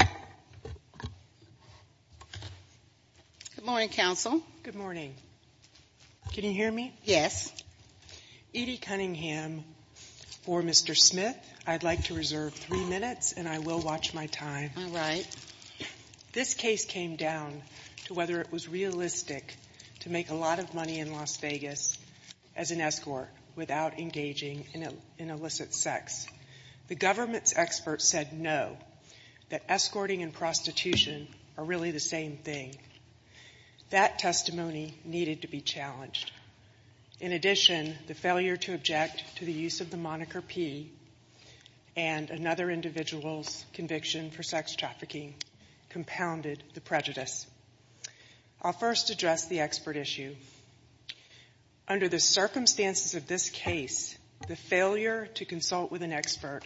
Good morning, counsel. Good morning. Can you hear me? Yes. Edie Cunningham v. Mr. Smith, I'd like to reserve three minutes and I will watch my time. All right. This case came down to whether it was realistic to make a lot of money in Las Vegas as an escort without engaging in illicit sex. The government's experts said no, that escorting and prostitution are really the same thing. That testimony needed to be challenged. In addition, the failure to object to the use of the moniker P and another individual's conviction for sex trafficking compounded the prejudice. I'll first address the expert issue. Under the circumstances of this case, the failure to consult with an expert,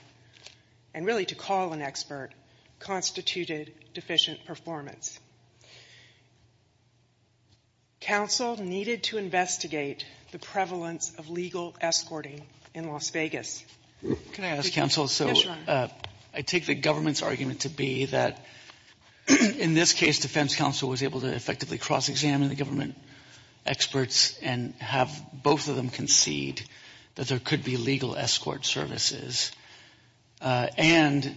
and really to call an expert, constituted deficient performance. Counsel needed to investigate the prevalence of legal escorting in Las Vegas. Can I ask, counsel, so I take the government's argument to be that in this case defense counsel was able to effectively cross-examine the government experts and have both of them concede that there could be legal escort services. And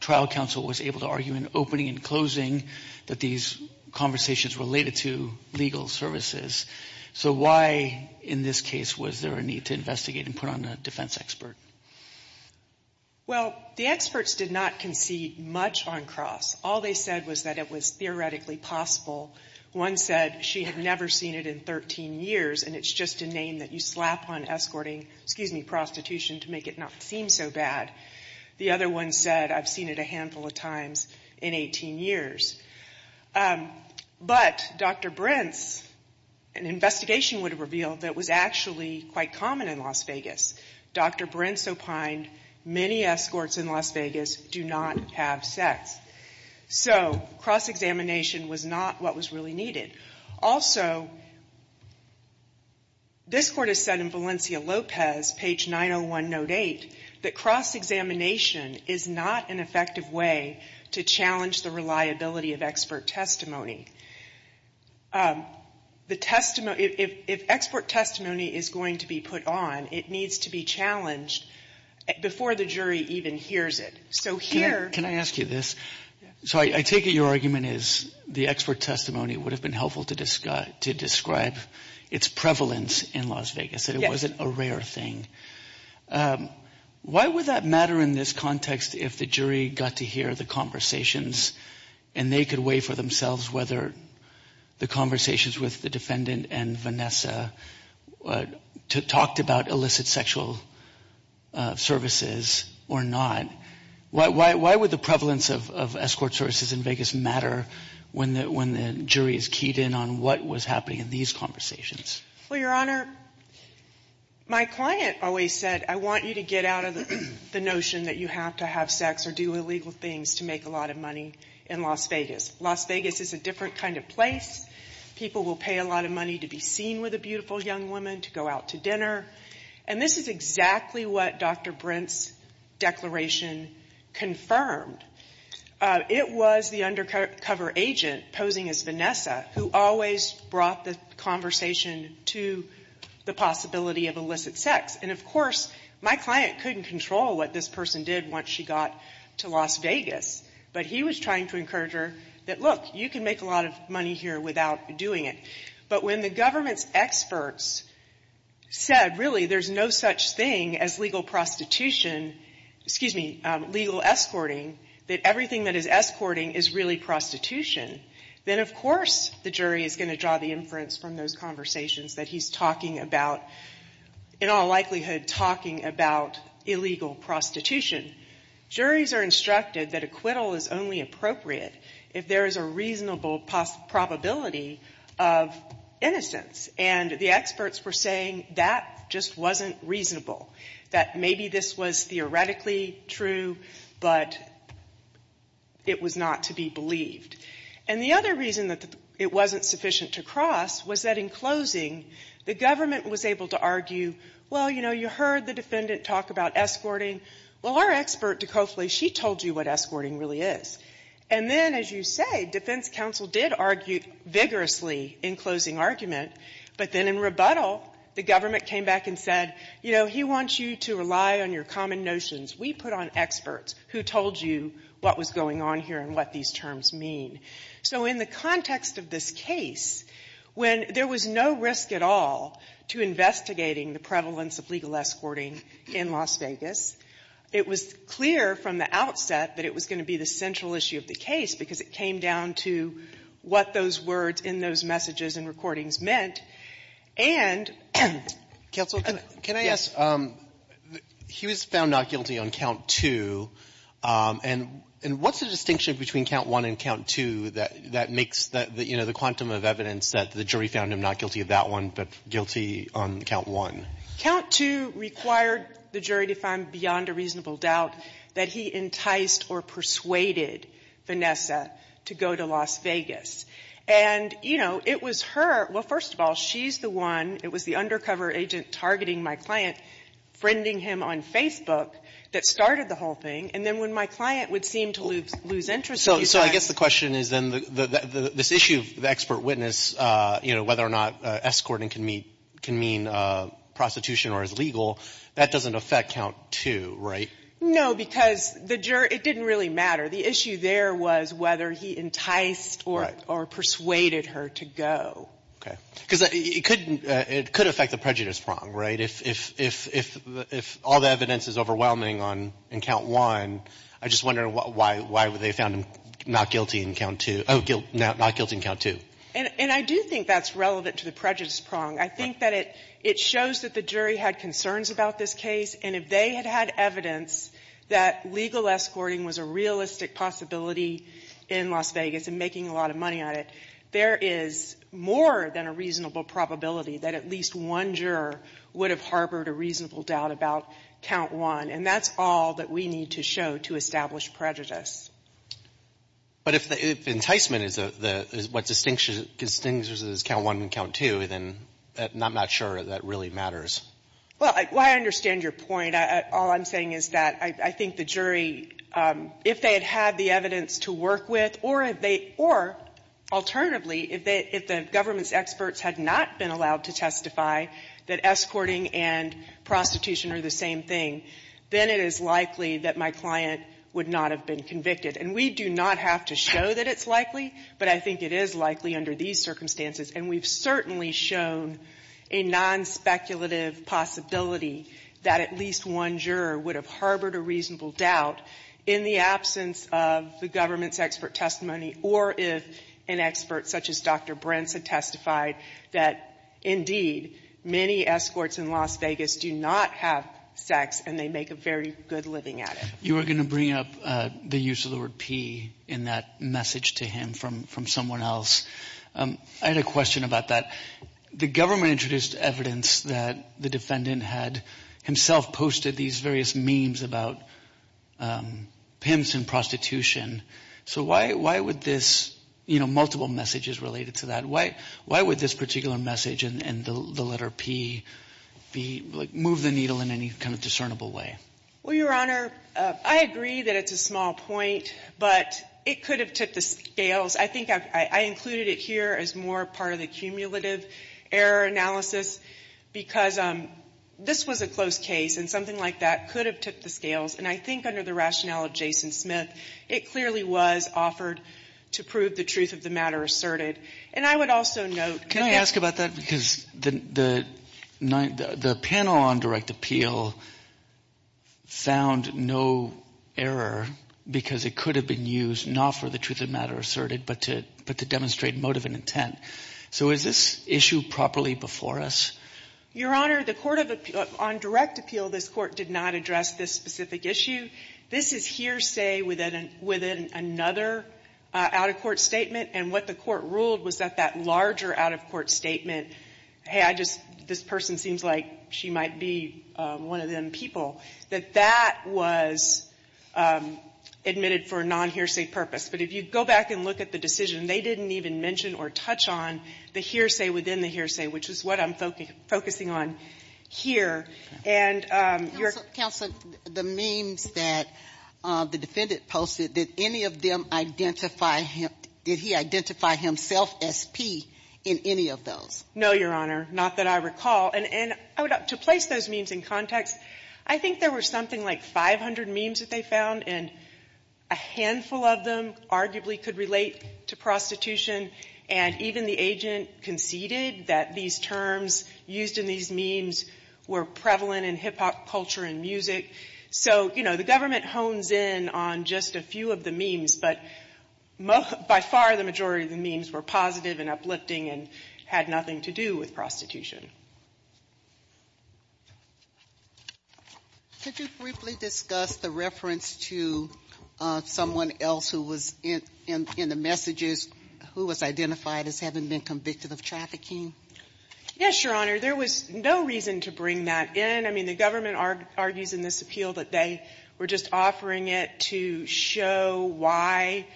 trial counsel was able to argue in opening and closing that these conversations related to legal services. So why in this case was there a need to investigate and put on a defense expert? Well, the experts did not concede much on cross. All they said was that it was theoretically possible. One said she had never seen it in 13 years and it's just a name that you slap on escorting, excuse me, prostitution to make it not seem so bad. The other one said I've seen it a handful of times in 18 years. But Dr. Brents, an investigation would have revealed that it was actually quite common in Las Vegas. Dr. Brents opined many escorts in Las Vegas do not have sex. So cross-examination was not what was really needed. Also, this Court has said in Valencia-Lopez, page 901, note 8, that cross-examination is not an effective way to challenge the reliability of expert testimony. The testimony If expert testimony is going to be put on, it needs to be challenged before the jury even hears it. So here Can I ask you this? So I take it your argument is the expert testimony would have been helpful to describe its prevalence in Las Vegas, that it wasn't a rare thing. Why would that matter in this context if the jury got to hear the conversations and they could weigh for themselves whether the conversations with the defendant and Vanessa talked about illicit sexual services or not? Why would the prevalence of escort services in Vegas matter when the jury is keyed in on what was happening in these conversations? Well, Your Honor, my client always said I want you to get out of the notion that you have to have sex or do illegal things to make a lot of money in Las Vegas. Las Vegas is a different kind of place. People will pay a lot of money to be seen with a beautiful young woman, to go out to dinner. And this is exactly what Dr. Brent's declaration confirmed. It was the undercover agent posing as Vanessa who always brought the conversation to the possibility of illicit sex. And, of course, my client couldn't control what this person did once she got to Las Vegas. But he was trying to encourage her that, look, you can make a lot of money here without doing it. But when the government's experts said, really, there's no such thing as legal prostitution — excuse me, legal escorting, that everything that is escorting is really prostitution, then, of course, the jury is going to draw the inference from those conversations that he's talking about, in all likelihood, talking about illegal prostitution. Juries are instructed that acquittal is only appropriate if there is a reasonable probability of innocence. And the experts were saying that just wasn't reasonable, that maybe this was theoretically true, but it was not to be believed. And the other reason that it wasn't sufficient to cross was that, in closing, the government was able to argue, well, you know, you heard the defendant talk about escorting. Well, our expert, DeCofle, she told you what escorting really is. And then, as you say, defense counsel did argue vigorously in closing argument. But then in rebuttal, the government came back and said, you know, he wants you to rely on your common notions. We put on experts who told you what was going on here and what these terms mean. So in the context of this case, when there was no risk at all to investigating the prevalence of legal escorting in Las Vegas, it was clear from the outset that it was going to be the central issue of the case, because it came down to what those words in those messages and recordings meant. And — And what's the distinction between count one and count two that makes the, you know, the quantum of evidence that the jury found him not guilty of that one, but guilty on count one? Count two required the jury to find, beyond a reasonable doubt, that he enticed or persuaded Vanessa to go to Las Vegas. And, you know, it was her — well, first of all, she's the one — it was the undercover agent targeting my client, friending him on Facebook, that started the whole thing. And then when my client would seem to lose interest in these So I guess the question is, then, this issue of the expert witness, you know, whether or not escorting can mean prostitution or is legal, that doesn't affect count two, right? No, because the jury — it didn't really matter. The issue there was whether he enticed or persuaded her to go. Okay. Because it could — it could affect the prejudice prong, right, if all the evidence is overwhelming on — in count one. I just wonder why they found him not guilty in count two — oh, not guilty in count two. And I do think that's relevant to the prejudice prong. I think that it shows that the jury had concerns about this case. And if they had had evidence that legal escorting was a realistic possibility in Las Vegas and making a lot of money on it, there is more than a reasonable probability that at least one juror would have harbored a reasonable doubt about count one. And that's all that we need to show to establish prejudice. But if the — if enticement is the — is what distinctions — distinguishes count one and count two, then I'm not sure that really matters. Well, I — well, I understand your point. I — all I'm saying is that I think the jury, if they had had the evidence to work with, or if they — or, alternatively, if they — if the government's experts had not been allowed to testify that escorting and prostitution are the same thing, then it is likely that my client would not have been convicted. And we do not have to show that it's likely, but I think it is likely under these circumstances. And we've certainly shown a nonspeculative possibility that at least one juror would have harbored a reasonable doubt in the absence of the government's expert testimony, or if an expert such as Dr. Brents had testified that, indeed, many escorts in Las Vegas do not have sex and they make a very good living at it. You were going to bring up the use of the word pee in that message to him from — from someone else. I had a question about that. The government introduced evidence that the defendant had himself posted these various memes about pimps and prostitution. So why — why would this — you know, multiple messages related to that. Why — why would this particular message and the letter P be — like, move the needle in any kind of discernible way? Well, Your Honor, I agree that it's a small point, but it could have took the scales. I think I've — I included it here as more part of the cumulative error analysis because this was a close case and something like that could have took the scales. And I think under the rationale of Jason Smith, it clearly was offered to prove the truth of the matter asserted. And I would also note — Can I ask about that? Because the — the panel on direct appeal found no error because it could have been used not for the truth of the matter asserted, but to — but to prove the truth of the matter asserted. Was this issue properly before us? Your Honor, the court of — on direct appeal, this Court did not address this specific issue. This is hearsay within — within another out-of-court statement. And what the Court ruled was that that larger out-of-court statement, hey, I just — this person seems like she might be one of them people, that that was admitted for a non-hearsay purpose. But if you go back and look at the decision, they didn't even mention or touch on the hearsay within the hearsay, which is what I'm focusing on here. And your — Counsel, the memes that the defendant posted, did any of them identify him — did he identify himself as P in any of those? No, Your Honor, not that I recall. And I would — to place those memes in context, I think there were something like 500 memes that they found, and a handful of them arguably could relate to prostitution. And even the agent conceded that these terms used in these memes were prevalent in hip-hop culture and music. So, you know, the government hones in on just a few of the memes, but by far the majority of the memes were positive and uplifting and had nothing to do with prostitution. Could you briefly discuss the reference to someone else who was in the messages who was identified as having been convicted of trafficking? Yes, Your Honor. There was no reason to bring that in. I mean, the government argues in this appeal that they were just offering it to show why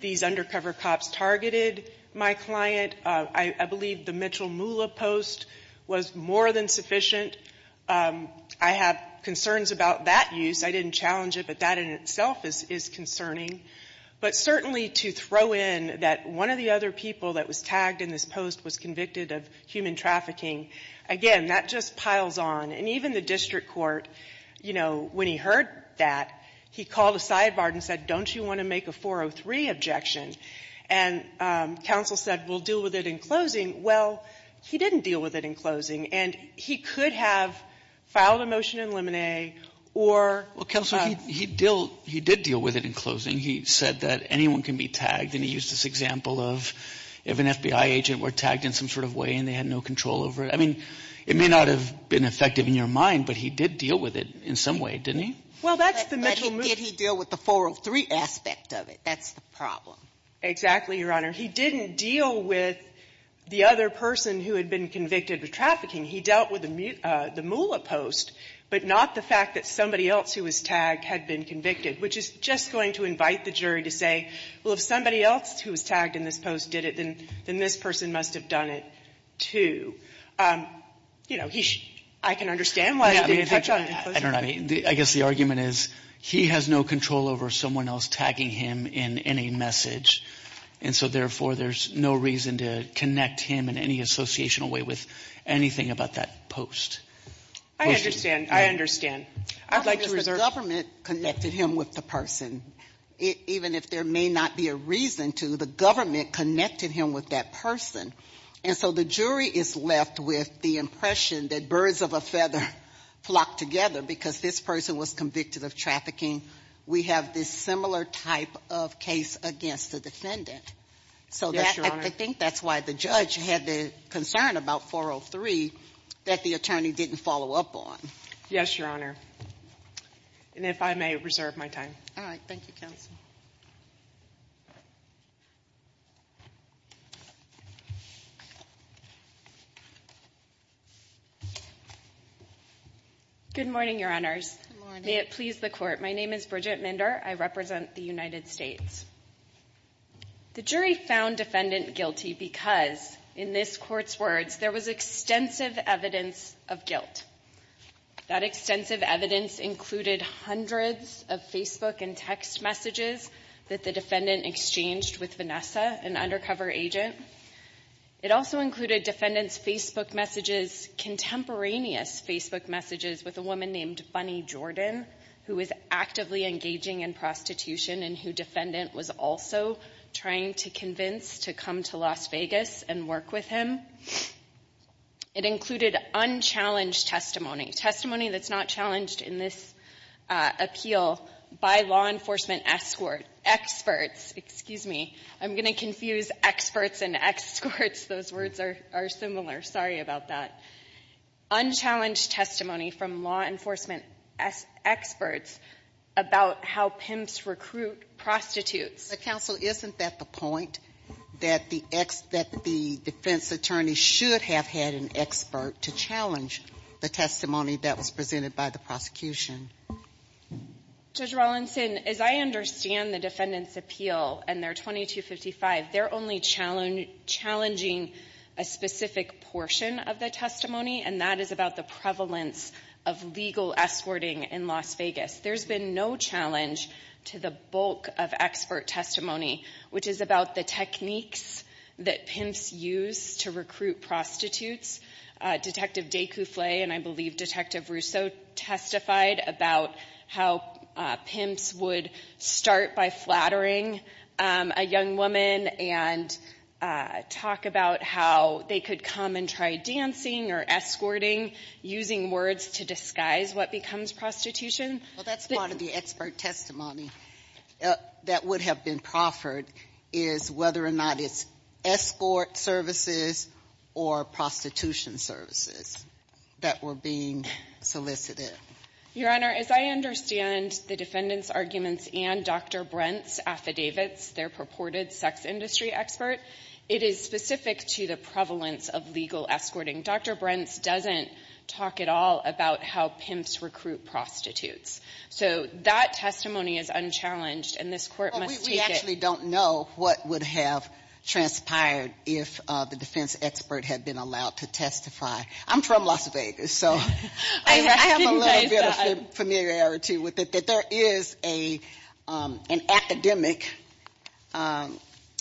these undercover cops targeted my client. I believe the Mitchell Moolah post was more than sufficient. I have concerns about that use. I didn't challenge it, but that in itself is concerning. But certainly to throw in that one of the other people that was tagged in this post was convicted of human trafficking, again, that just piles on. And even the district court, you know, when he heard that, he called a sidebar and said, don't you want to make a 403 objection? And counsel said, we'll deal with it in closing. Well, he didn't deal with it in closing. And he could have filed a motion to eliminate or... Well, counsel, he did deal with it in closing. He said that anyone can be tagged. And he used this example of if an FBI agent were tagged in some sort of way and they had no control over it. I mean, it may not have been effective in your mind, but he did deal with it in some way, didn't he? Well, that's the Mitchell Moolah... But did he deal with the 403 aspect of it? That's the problem. Exactly, Your Honor. He didn't deal with the other person who had been convicted of trafficking. He dealt with the Moolah post, but not the fact that somebody else who was tagged had been convicted, which is just going to invite the jury to say, well, if somebody else who was tagged in this post did it, then this person must have done it, too. You know, I can understand why they didn't touch on it in closing. I don't know. I guess the argument is he has no control over someone else tagging him in any message. And so, therefore, there's no reason to connect him in any associational way with anything about that post. I understand. I understand. I'd like to reserve... I think it's the government connected him with the person. Even if there may not be a reason to, the government connected him with that person. And so the jury is left with the impression that birds of a feather flock together because this person was convicted of trafficking. We have this similar type of case against the defendant. So I think that's why the judge had the concern about 403 that the attorney didn't follow up on. Yes, Your Honor. And if I may reserve my time. All right. Thank you, counsel. Good morning, Your Honors. Good morning. May it please the Court. My name is Bridget Minder. I represent the United States. The jury found defendant guilty because, in this Court's words, there was extensive evidence of guilt. That extensive evidence included hundreds of Facebook and text messages that the defendant exchanged with Vanessa, an undercover agent. It also included defendant's Facebook messages, contemporaneous Facebook messages, with a woman named Bunny Jordan, who was actively engaging in prostitution and who defendant was also trying to convince to come to Las Vegas and work with him. It included unchallenged testimony, testimony that's not challenged in this appeal by law enforcement experts. Excuse me. I'm going to confuse experts and escorts. Those words are similar. Sorry about that. Unchallenged testimony from law enforcement experts about how pimps recruit prostitutes. But, counsel, isn't that the point, that the defense attorney should have had an expert to challenge the testimony that was presented by the prosecution? Judge Rawlinson, as I understand the defendant's appeal and their 2255, they're only challenging a specific portion of the testimony, and that is about the prevalence of legal escorting in Las Vegas. There's been no challenge to the bulk of expert testimony, which is about the techniques that pimps use to recruit prostitutes. Detective DesCouffle and I believe Detective Rousseau testified about how pimps would start by flattering a young woman and talk about how they could come and try dancing or escorting, using words to disguise what becomes prostitution. Well, that's part of the expert testimony that would have been proffered, is whether or not it's escort services or prostitution services that were being solicited. Your Honor, as I understand the defendant's arguments and Dr. Brent's affidavits, their purported sex industry expert, it is specific to the prevalence of legal escorting. Dr. Brent doesn't talk at all about how pimps recruit prostitutes. So that testimony is unchallenged, and this Court must take it. I actually don't know what would have transpired if the defense expert had been allowed to testify. I'm from Las Vegas, so I have a little bit of familiarity with it, that there is an academic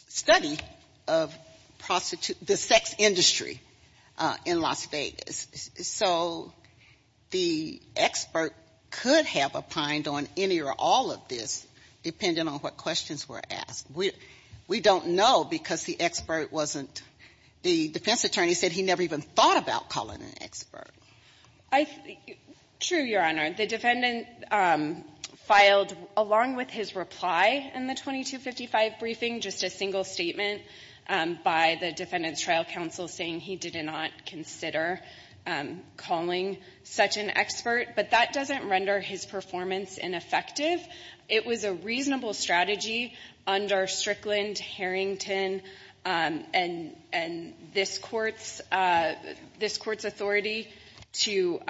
study of prostitution, the sex industry in Las Vegas. So the expert could have opined on any or all of this, depending on what questions were asked. We don't know because the expert wasn't the defense attorney said he never even thought about calling an expert. True, Your Honor. The defendant filed, along with his reply in the 2255 briefing, just a single statement by the Defendant's Trial Counsel saying he did not consider calling such an expert, but that doesn't render his performance ineffective. It was a reasonable strategy under Strickland, Harrington, and this Court's authority to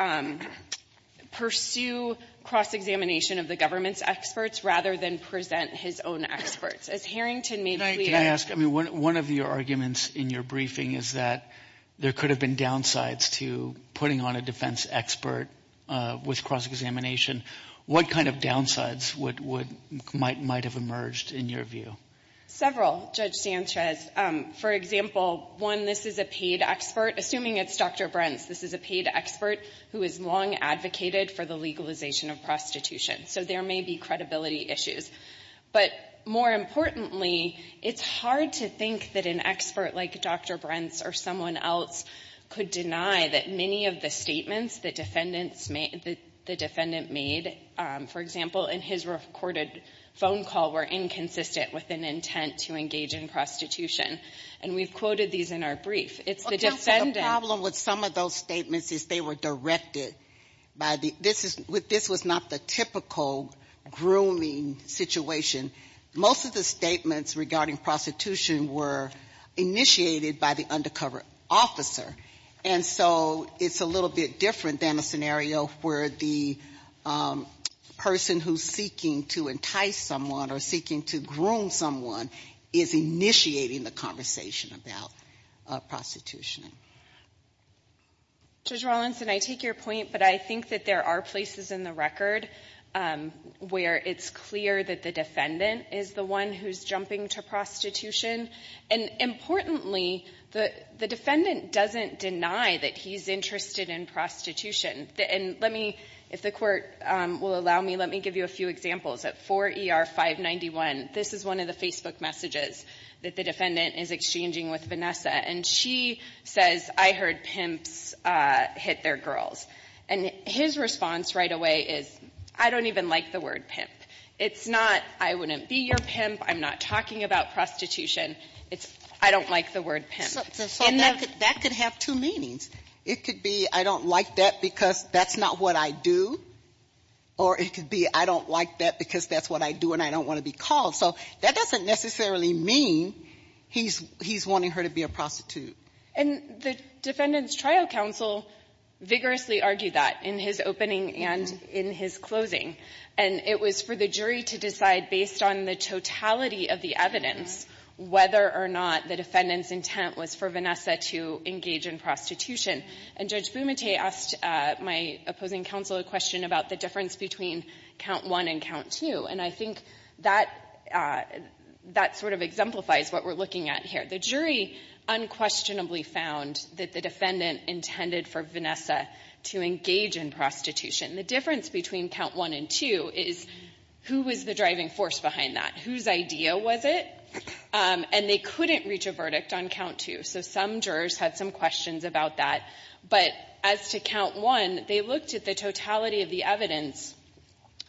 pursue cross-examination of the government's experts rather than present his own experts. As Harrington made clear... Can I ask, I mean, one of your arguments in your briefing is that there could have been downsides to putting on a defense expert with cross-examination. What kind of downsides might have emerged in your view? Several, Judge Sanchez. For example, one, this is a paid expert. Assuming it's Dr. Brents, this is a paid expert who has long advocated for the legalization of prostitution. So there may be credibility issues. But more importantly, it's hard to think that an expert like Dr. Brents or someone else could deny that many of the statements that the Defendant made, for example, in his recorded phone call, were inconsistent with an intent to engage in prostitution. And we've quoted these in our brief. It's the Defendant... Well, counsel, the problem with some of those statements is they were directed by the — this was not the typical grooming situation. Most of the statements regarding prostitution were initiated by the undercover officer. And so it's a little bit different than a scenario where the person who's seeking to entice someone or seeking to groom someone is initiating the conversation about prostitution. Judge Rawlinson, I take your point, but I think that there are places in the record where it's clear that the Defendant is the one who's jumping to prostitution. And importantly, the Defendant doesn't deny that he's interested in prostitution. And let me — if the Court will allow me, let me give you a few examples. At 4 ER 591, this is one of the Facebook messages that the Defendant is exchanging with Vanessa. And she says, I heard pimps hit their girls. And his response right away is, I don't even like the word pimp. It's not, I wouldn't be your pimp, I'm not talking about prostitution. It's, I don't like the word pimp. And that could have two meanings. It could be, I don't like that because that's not what I do. Or it could be, I don't like that because that's what I do and I don't want to be called. So that doesn't necessarily mean he's wanting her to be a prostitute. And the Defendant's trial counsel vigorously argued that in his opening and in his closing. And it was for the jury to decide, based on the totality of the evidence whether or not the Defendant's intent was for Vanessa to engage in prostitution. And Judge Bumate asked my opposing counsel a question about the difference between count one and count two. And I think that that sort of exemplifies what we're looking at here. The jury unquestionably found that the Defendant intended for Vanessa to engage in prostitution. The difference between count one and two is who was the driving force behind that? Whose idea was it? And they couldn't reach a verdict on count two. So some jurors had some questions about that. But as to count one, they looked at the totality of the evidence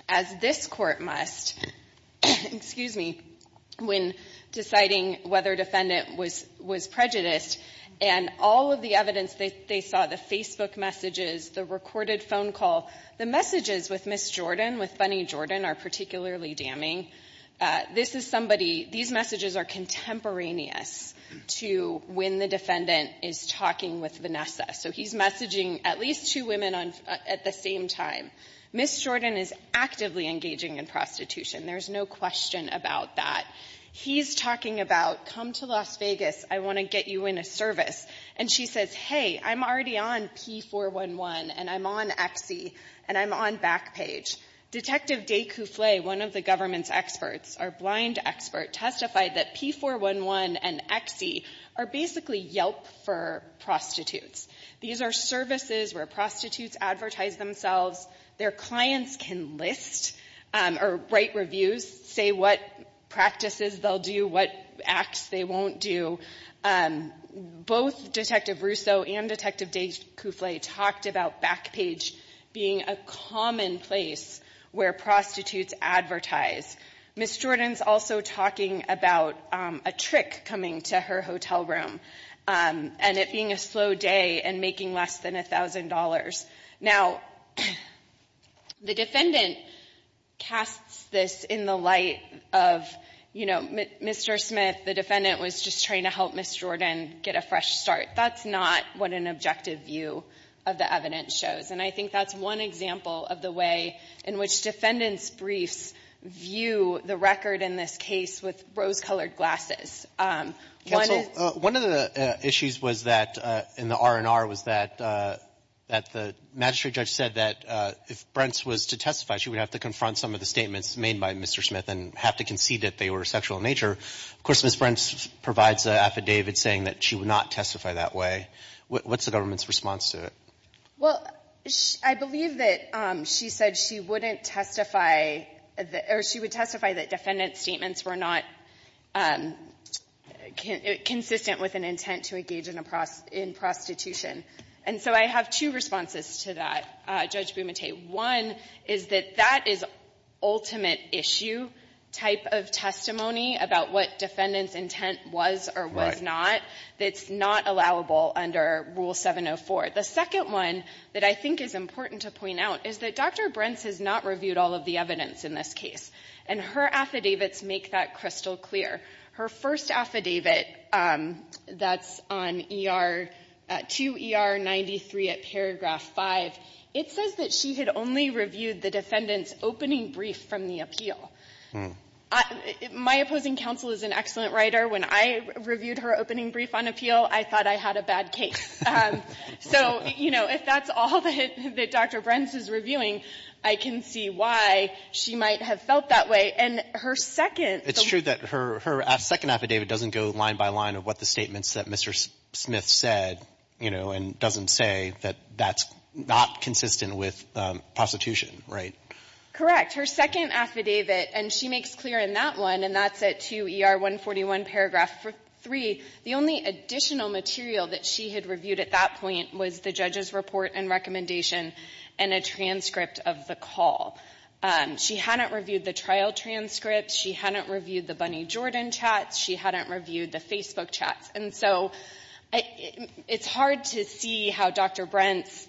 as this court must, excuse me, when deciding whether Defendant was prejudiced. And all of the evidence they saw, the Facebook messages, the recorded phone call. The messages with Ms. Jordan, with Bunny Jordan, are particularly damning. This is somebody, these messages are contemporaneous to when the Defendant is talking with Vanessa. So he's messaging at least two women at the same time. Ms. Jordan is actively engaging in prostitution. There's no question about that. He's talking about, come to Las Vegas, I want to get you in a service. And she says, hey, I'm already on P411, and I'm on XE, and I'm on Backpage. Detective Day-Couffle, one of the government's experts, our blind expert, testified that P411 and XE are basically Yelp for prostitutes. These are services where prostitutes advertise themselves. Their clients can list or write reviews, say what practices they'll do, what acts they won't do. Both Detective Russo and Detective Day-Couffle talked about Backpage being a common place where prostitutes advertise. Ms. Jordan's also talking about a trick coming to her hotel room and it being a slow day and making less than $1,000. Now, the Defendant casts this in the light of, you know, Mr. Smith, the Defendant was just trying to help Ms. Jordan get a fresh start. That's not what an objective view of the evidence shows. And I think that's one example of the way in which Defendant's briefs view the record in this case with rose-colored glasses. One of the issues was that, in the R&R, was that the magistrate judge said that if Brentz was to testify, she would have to confront some of the statements made by Mr. Smith and have to concede that they were sexual in nature. Of course, Ms. Brentz provides an affidavit saying that she would not testify that way. What's the government's response to it? Well, I believe that she said she wouldn't testify, or she would testify that Defendant's statements were not consistent with an intent to engage in prostitution. And so I have two responses to that, Judge Bumate. One is that that is ultimate issue type of testimony about what Defendant's intent was or was not, that's not allowable under Rule 704. The second one that I think is important to point out is that Dr. Brentz has not reviewed all of the evidence in this case, and her affidavits make that crystal clear. Her first affidavit that's on 2 ER 93 at paragraph 5, it says that she had only reviewed the Defendant's opening brief from the appeal. My opposing counsel is an excellent writer. When I reviewed her opening brief on appeal, I thought I had a bad case. So, you know, if that's all that Dr. Brentz is reviewing, I can see why she might have felt that way. And her second It's true that her second affidavit doesn't go line by line of what the statements that Mr. Smith said, you know, and doesn't say that that's not consistent with prostitution, right? Correct. Her second affidavit, and she makes clear in that one, and that's at 2 ER 141, paragraph 3, the only additional material that she had reviewed at that point was the judge's report and recommendation and a transcript of the call. She hadn't reviewed the trial transcripts. She hadn't reviewed the Bunny Jordan chats. She hadn't reviewed the Facebook chats. And so it's hard to see how Dr. Brentz's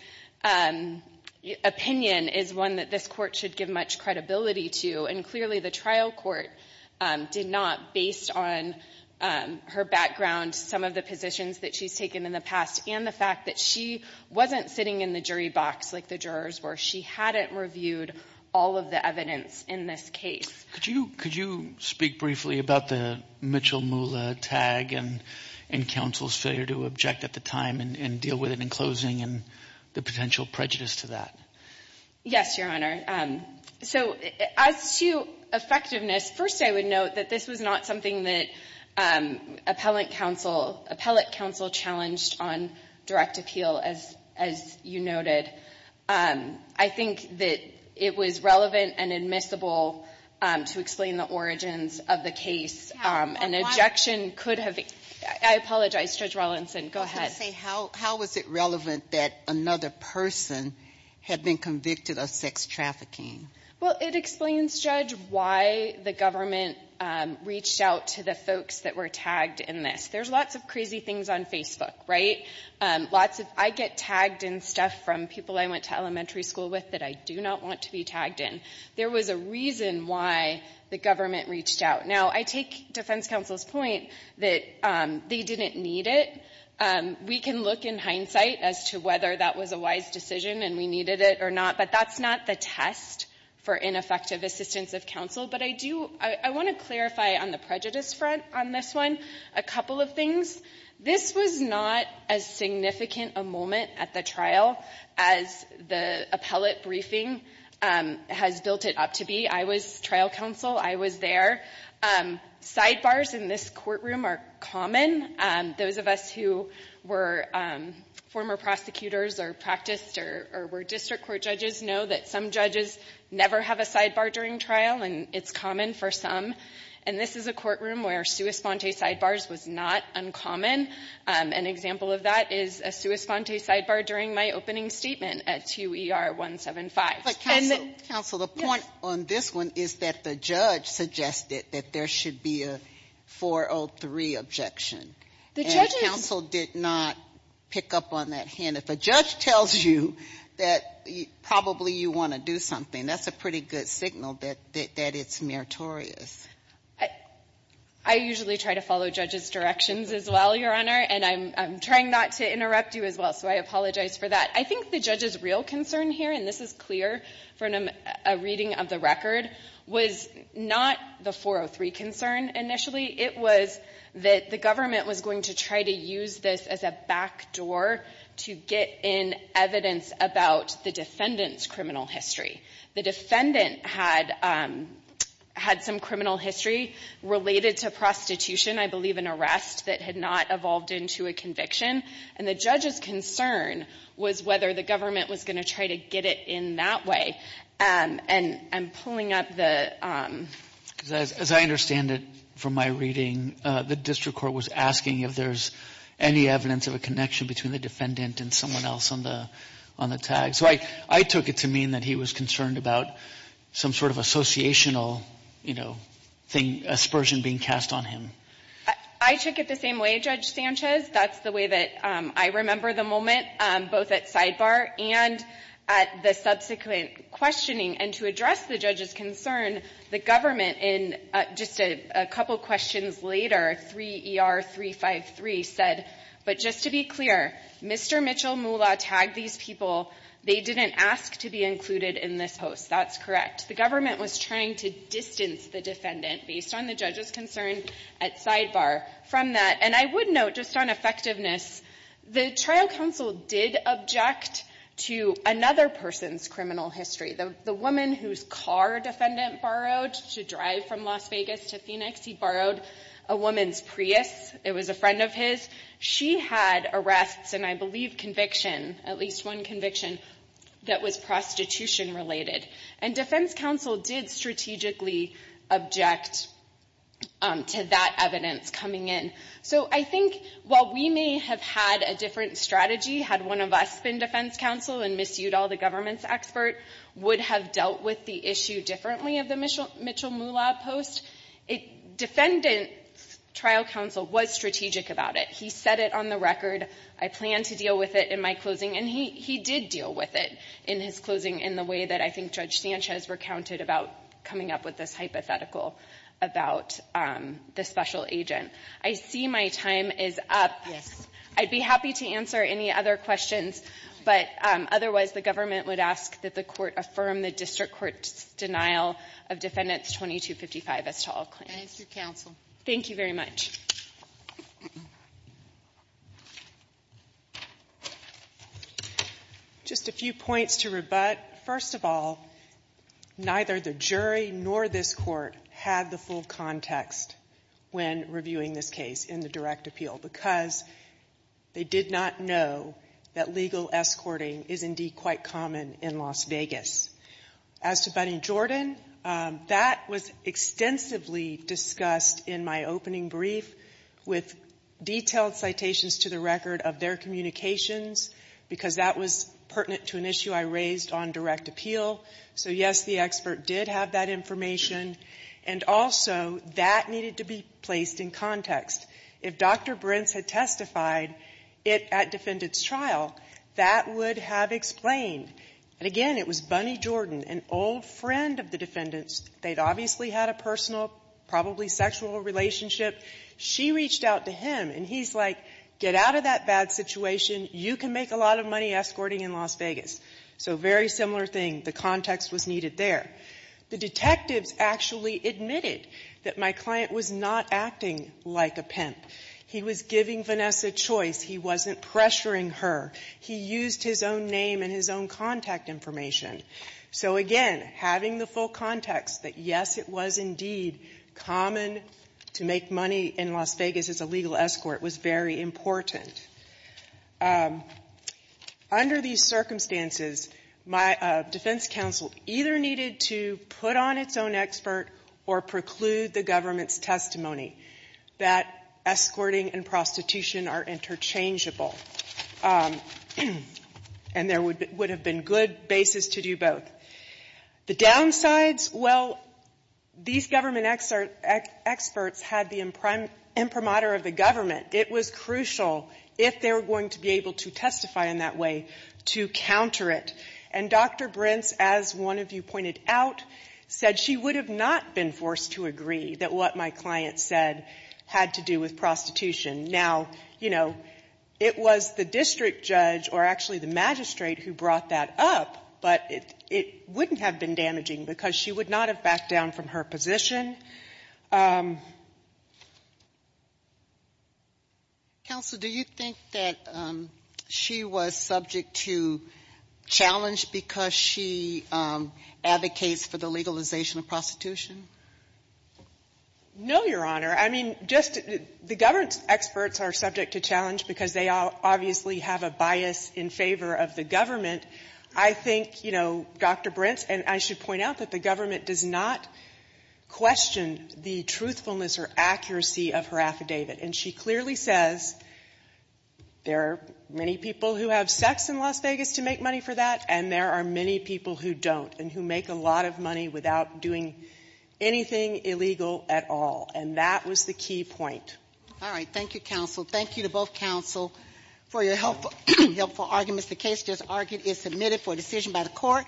opinion is one that this court should give much credibility to. And clearly the trial court did not, based on her background, some of the positions that she's taken in the past, and the fact that she wasn't sitting in the jury box like the jurors were. She hadn't reviewed all of the evidence in this case. Could you speak briefly about the Mitchell-Muller tag and counsel's failure to object at the time and deal with it in closing and the potential prejudice to that? Yes, Your Honor. So as to effectiveness, first I would note that this was not something that appellate counsel challenged on direct appeal, as you noted. I think that it was relevant and admissible to explain the origins of the How was it relevant that another person had been convicted of sex trafficking? Well, it explains, Judge, why the government reached out to the folks that were tagged in this. There's lots of crazy things on Facebook, right? Lots of I get tagged in stuff from people I went to elementary school with that I do not want to be tagged in. There was a reason why the government reached out. Now, I defense counsel's point that they didn't need it. We can look in hindsight as to whether that was a wise decision and we needed it or not, but that's not the test for ineffective assistance of counsel. But I do — I want to clarify on the prejudice front on this one a couple of things. This was not as significant a moment at the trial as the appellate briefing has built it up to be. I was trial counsel. I was there. Sidebars in this courtroom are common. Those of us who were former prosecutors or practiced or were district court judges know that some judges never have a sidebar during trial, and it's common for some. And this is a courtroom where sua sponte sidebars was not uncommon. An example of that is a sua sponte sidebar during my opening statement at 2ER-175. But counsel, the point on this one is that the judge suggested that there should be a 403 objection. And counsel did not pick up on that hint. If a judge tells you that probably you want to do something, that's a pretty good signal that it's meritorious. I usually try to follow judges' directions as well, Your Honor, and I'm trying not to interrupt you as well, so I apologize for that. I think the judge's real concern here, and this is clear from a reading of the record, was not the 403 concern initially. It was that the government was going to try to use this as a backdoor to get in evidence about the defendant's criminal history. The defendant had some criminal history related to prostitution, I believe an arrest that had not evolved into a conviction, and the judge's concern was whether the government was going to try to get it in that way. And I'm pulling up the... As I understand it from my reading, the district court was asking if there's any evidence of a connection between the defendant and someone else on the tag. So I took it to mean that he was concerned about some sort of associational, you know, aspersion being cast on him. I took it the same way, Judge Sanchez. That's the way that I remember the moment, both at sidebar and at the subsequent questioning. And to address the judge's concern, the government in just a couple questions later, 3 ER 353, said, but just to be clear, Mr. Mitchell Moolah tagged these people. They didn't ask to be included in this post. That's correct. The government was trying to distance the defendant based on the judge's concern at sidebar from that. And I would note just on effectiveness, the trial counsel did object to another person's criminal history. The woman whose car defendant borrowed to drive from Las Vegas to Phoenix, he borrowed a woman's Prius. It was a friend of his. She had arrests and I believe conviction, at least one conviction that was prostitution related. And defense counsel did strategically object to that evidence coming in. So I think while we may have had a different strategy had one of us been defense counsel and Ms. Udall, the government's expert, would have dealt with the issue differently of the Mitchell Moolah post, defendant's trial counsel was strategic about it. He said it on the record. I plan to deal with it in my closing. And he did deal with it in his closing in the way that I think Judge Sanchez recounted about coming up with this hypothetical about the special agent. I see my time is up. I'd be happy to answer any other questions, but otherwise, the government would ask that the Court affirm the district court's denial of Defendant 2255 as tall claim. Thank you, counsel. Thank you very much. Just a few points to rebut. First of all, neither the jury nor this Court had the full context when reviewing this case in the direct appeal because they did not know that legal escorting is, indeed, quite common in Las Vegas. As to Bunny Jordan, that was extensively discussed in my opening brief, and I think it's important to note that I did review that brief with detailed citations to the record of their communications because that was pertinent to an issue I raised on direct appeal. So, yes, the expert did have that information, and also that needed to be placed in context. If Dr. Brintz had testified at defendant's trial, that would have explained. And again, it was Bunny Jordan. She reached out to him, and he's like, get out of that bad situation. You can make a lot of money escorting in Las Vegas. So very similar thing. The context was needed there. The detectives actually admitted that my client was not acting like a pimp. He was giving Vanessa choice. He wasn't pressuring her. He used his own name and his own contact information. So, again, having the full context that, yes, it was indeed common to make money in Las Vegas as a legal escort was very important. Under these circumstances, my defense counsel either needed to put on its own expert or preclude the government's testimony that escorting and prostitution are interchangeable. And there would have been good basis to do both. The downsides, well, these government experts had the imprimatur of the government. It was crucial, if they were going to be able to testify in that way, to counter it. And Dr. Brintz, as one of you pointed out, said she would have not been forced to agree that what my client said had to do with prostitution. Now, you know, it was the district judge or actually the magistrate who brought that up, but it wouldn't have been damaging because she would not have backed down from her position. Sotomayor, do you think that she was subject to challenge because she advocates for the legalization of prostitution? No, Your Honor. I mean, just the government experts are subject to challenge because they obviously have a bias in favor of the government. I think, you know, Dr. Brintz, and I should point out that the government does not question the truthfulness or accuracy of her affidavit. And she clearly says there are many people who have sex in Las Vegas to make money for that, and there are many people who don't and who make a lot of money without doing anything illegal at all. And that was the key point. All right. Thank you, counsel. Thank you to both counsel for your helpful arguments. The case is submitted for decision by the court.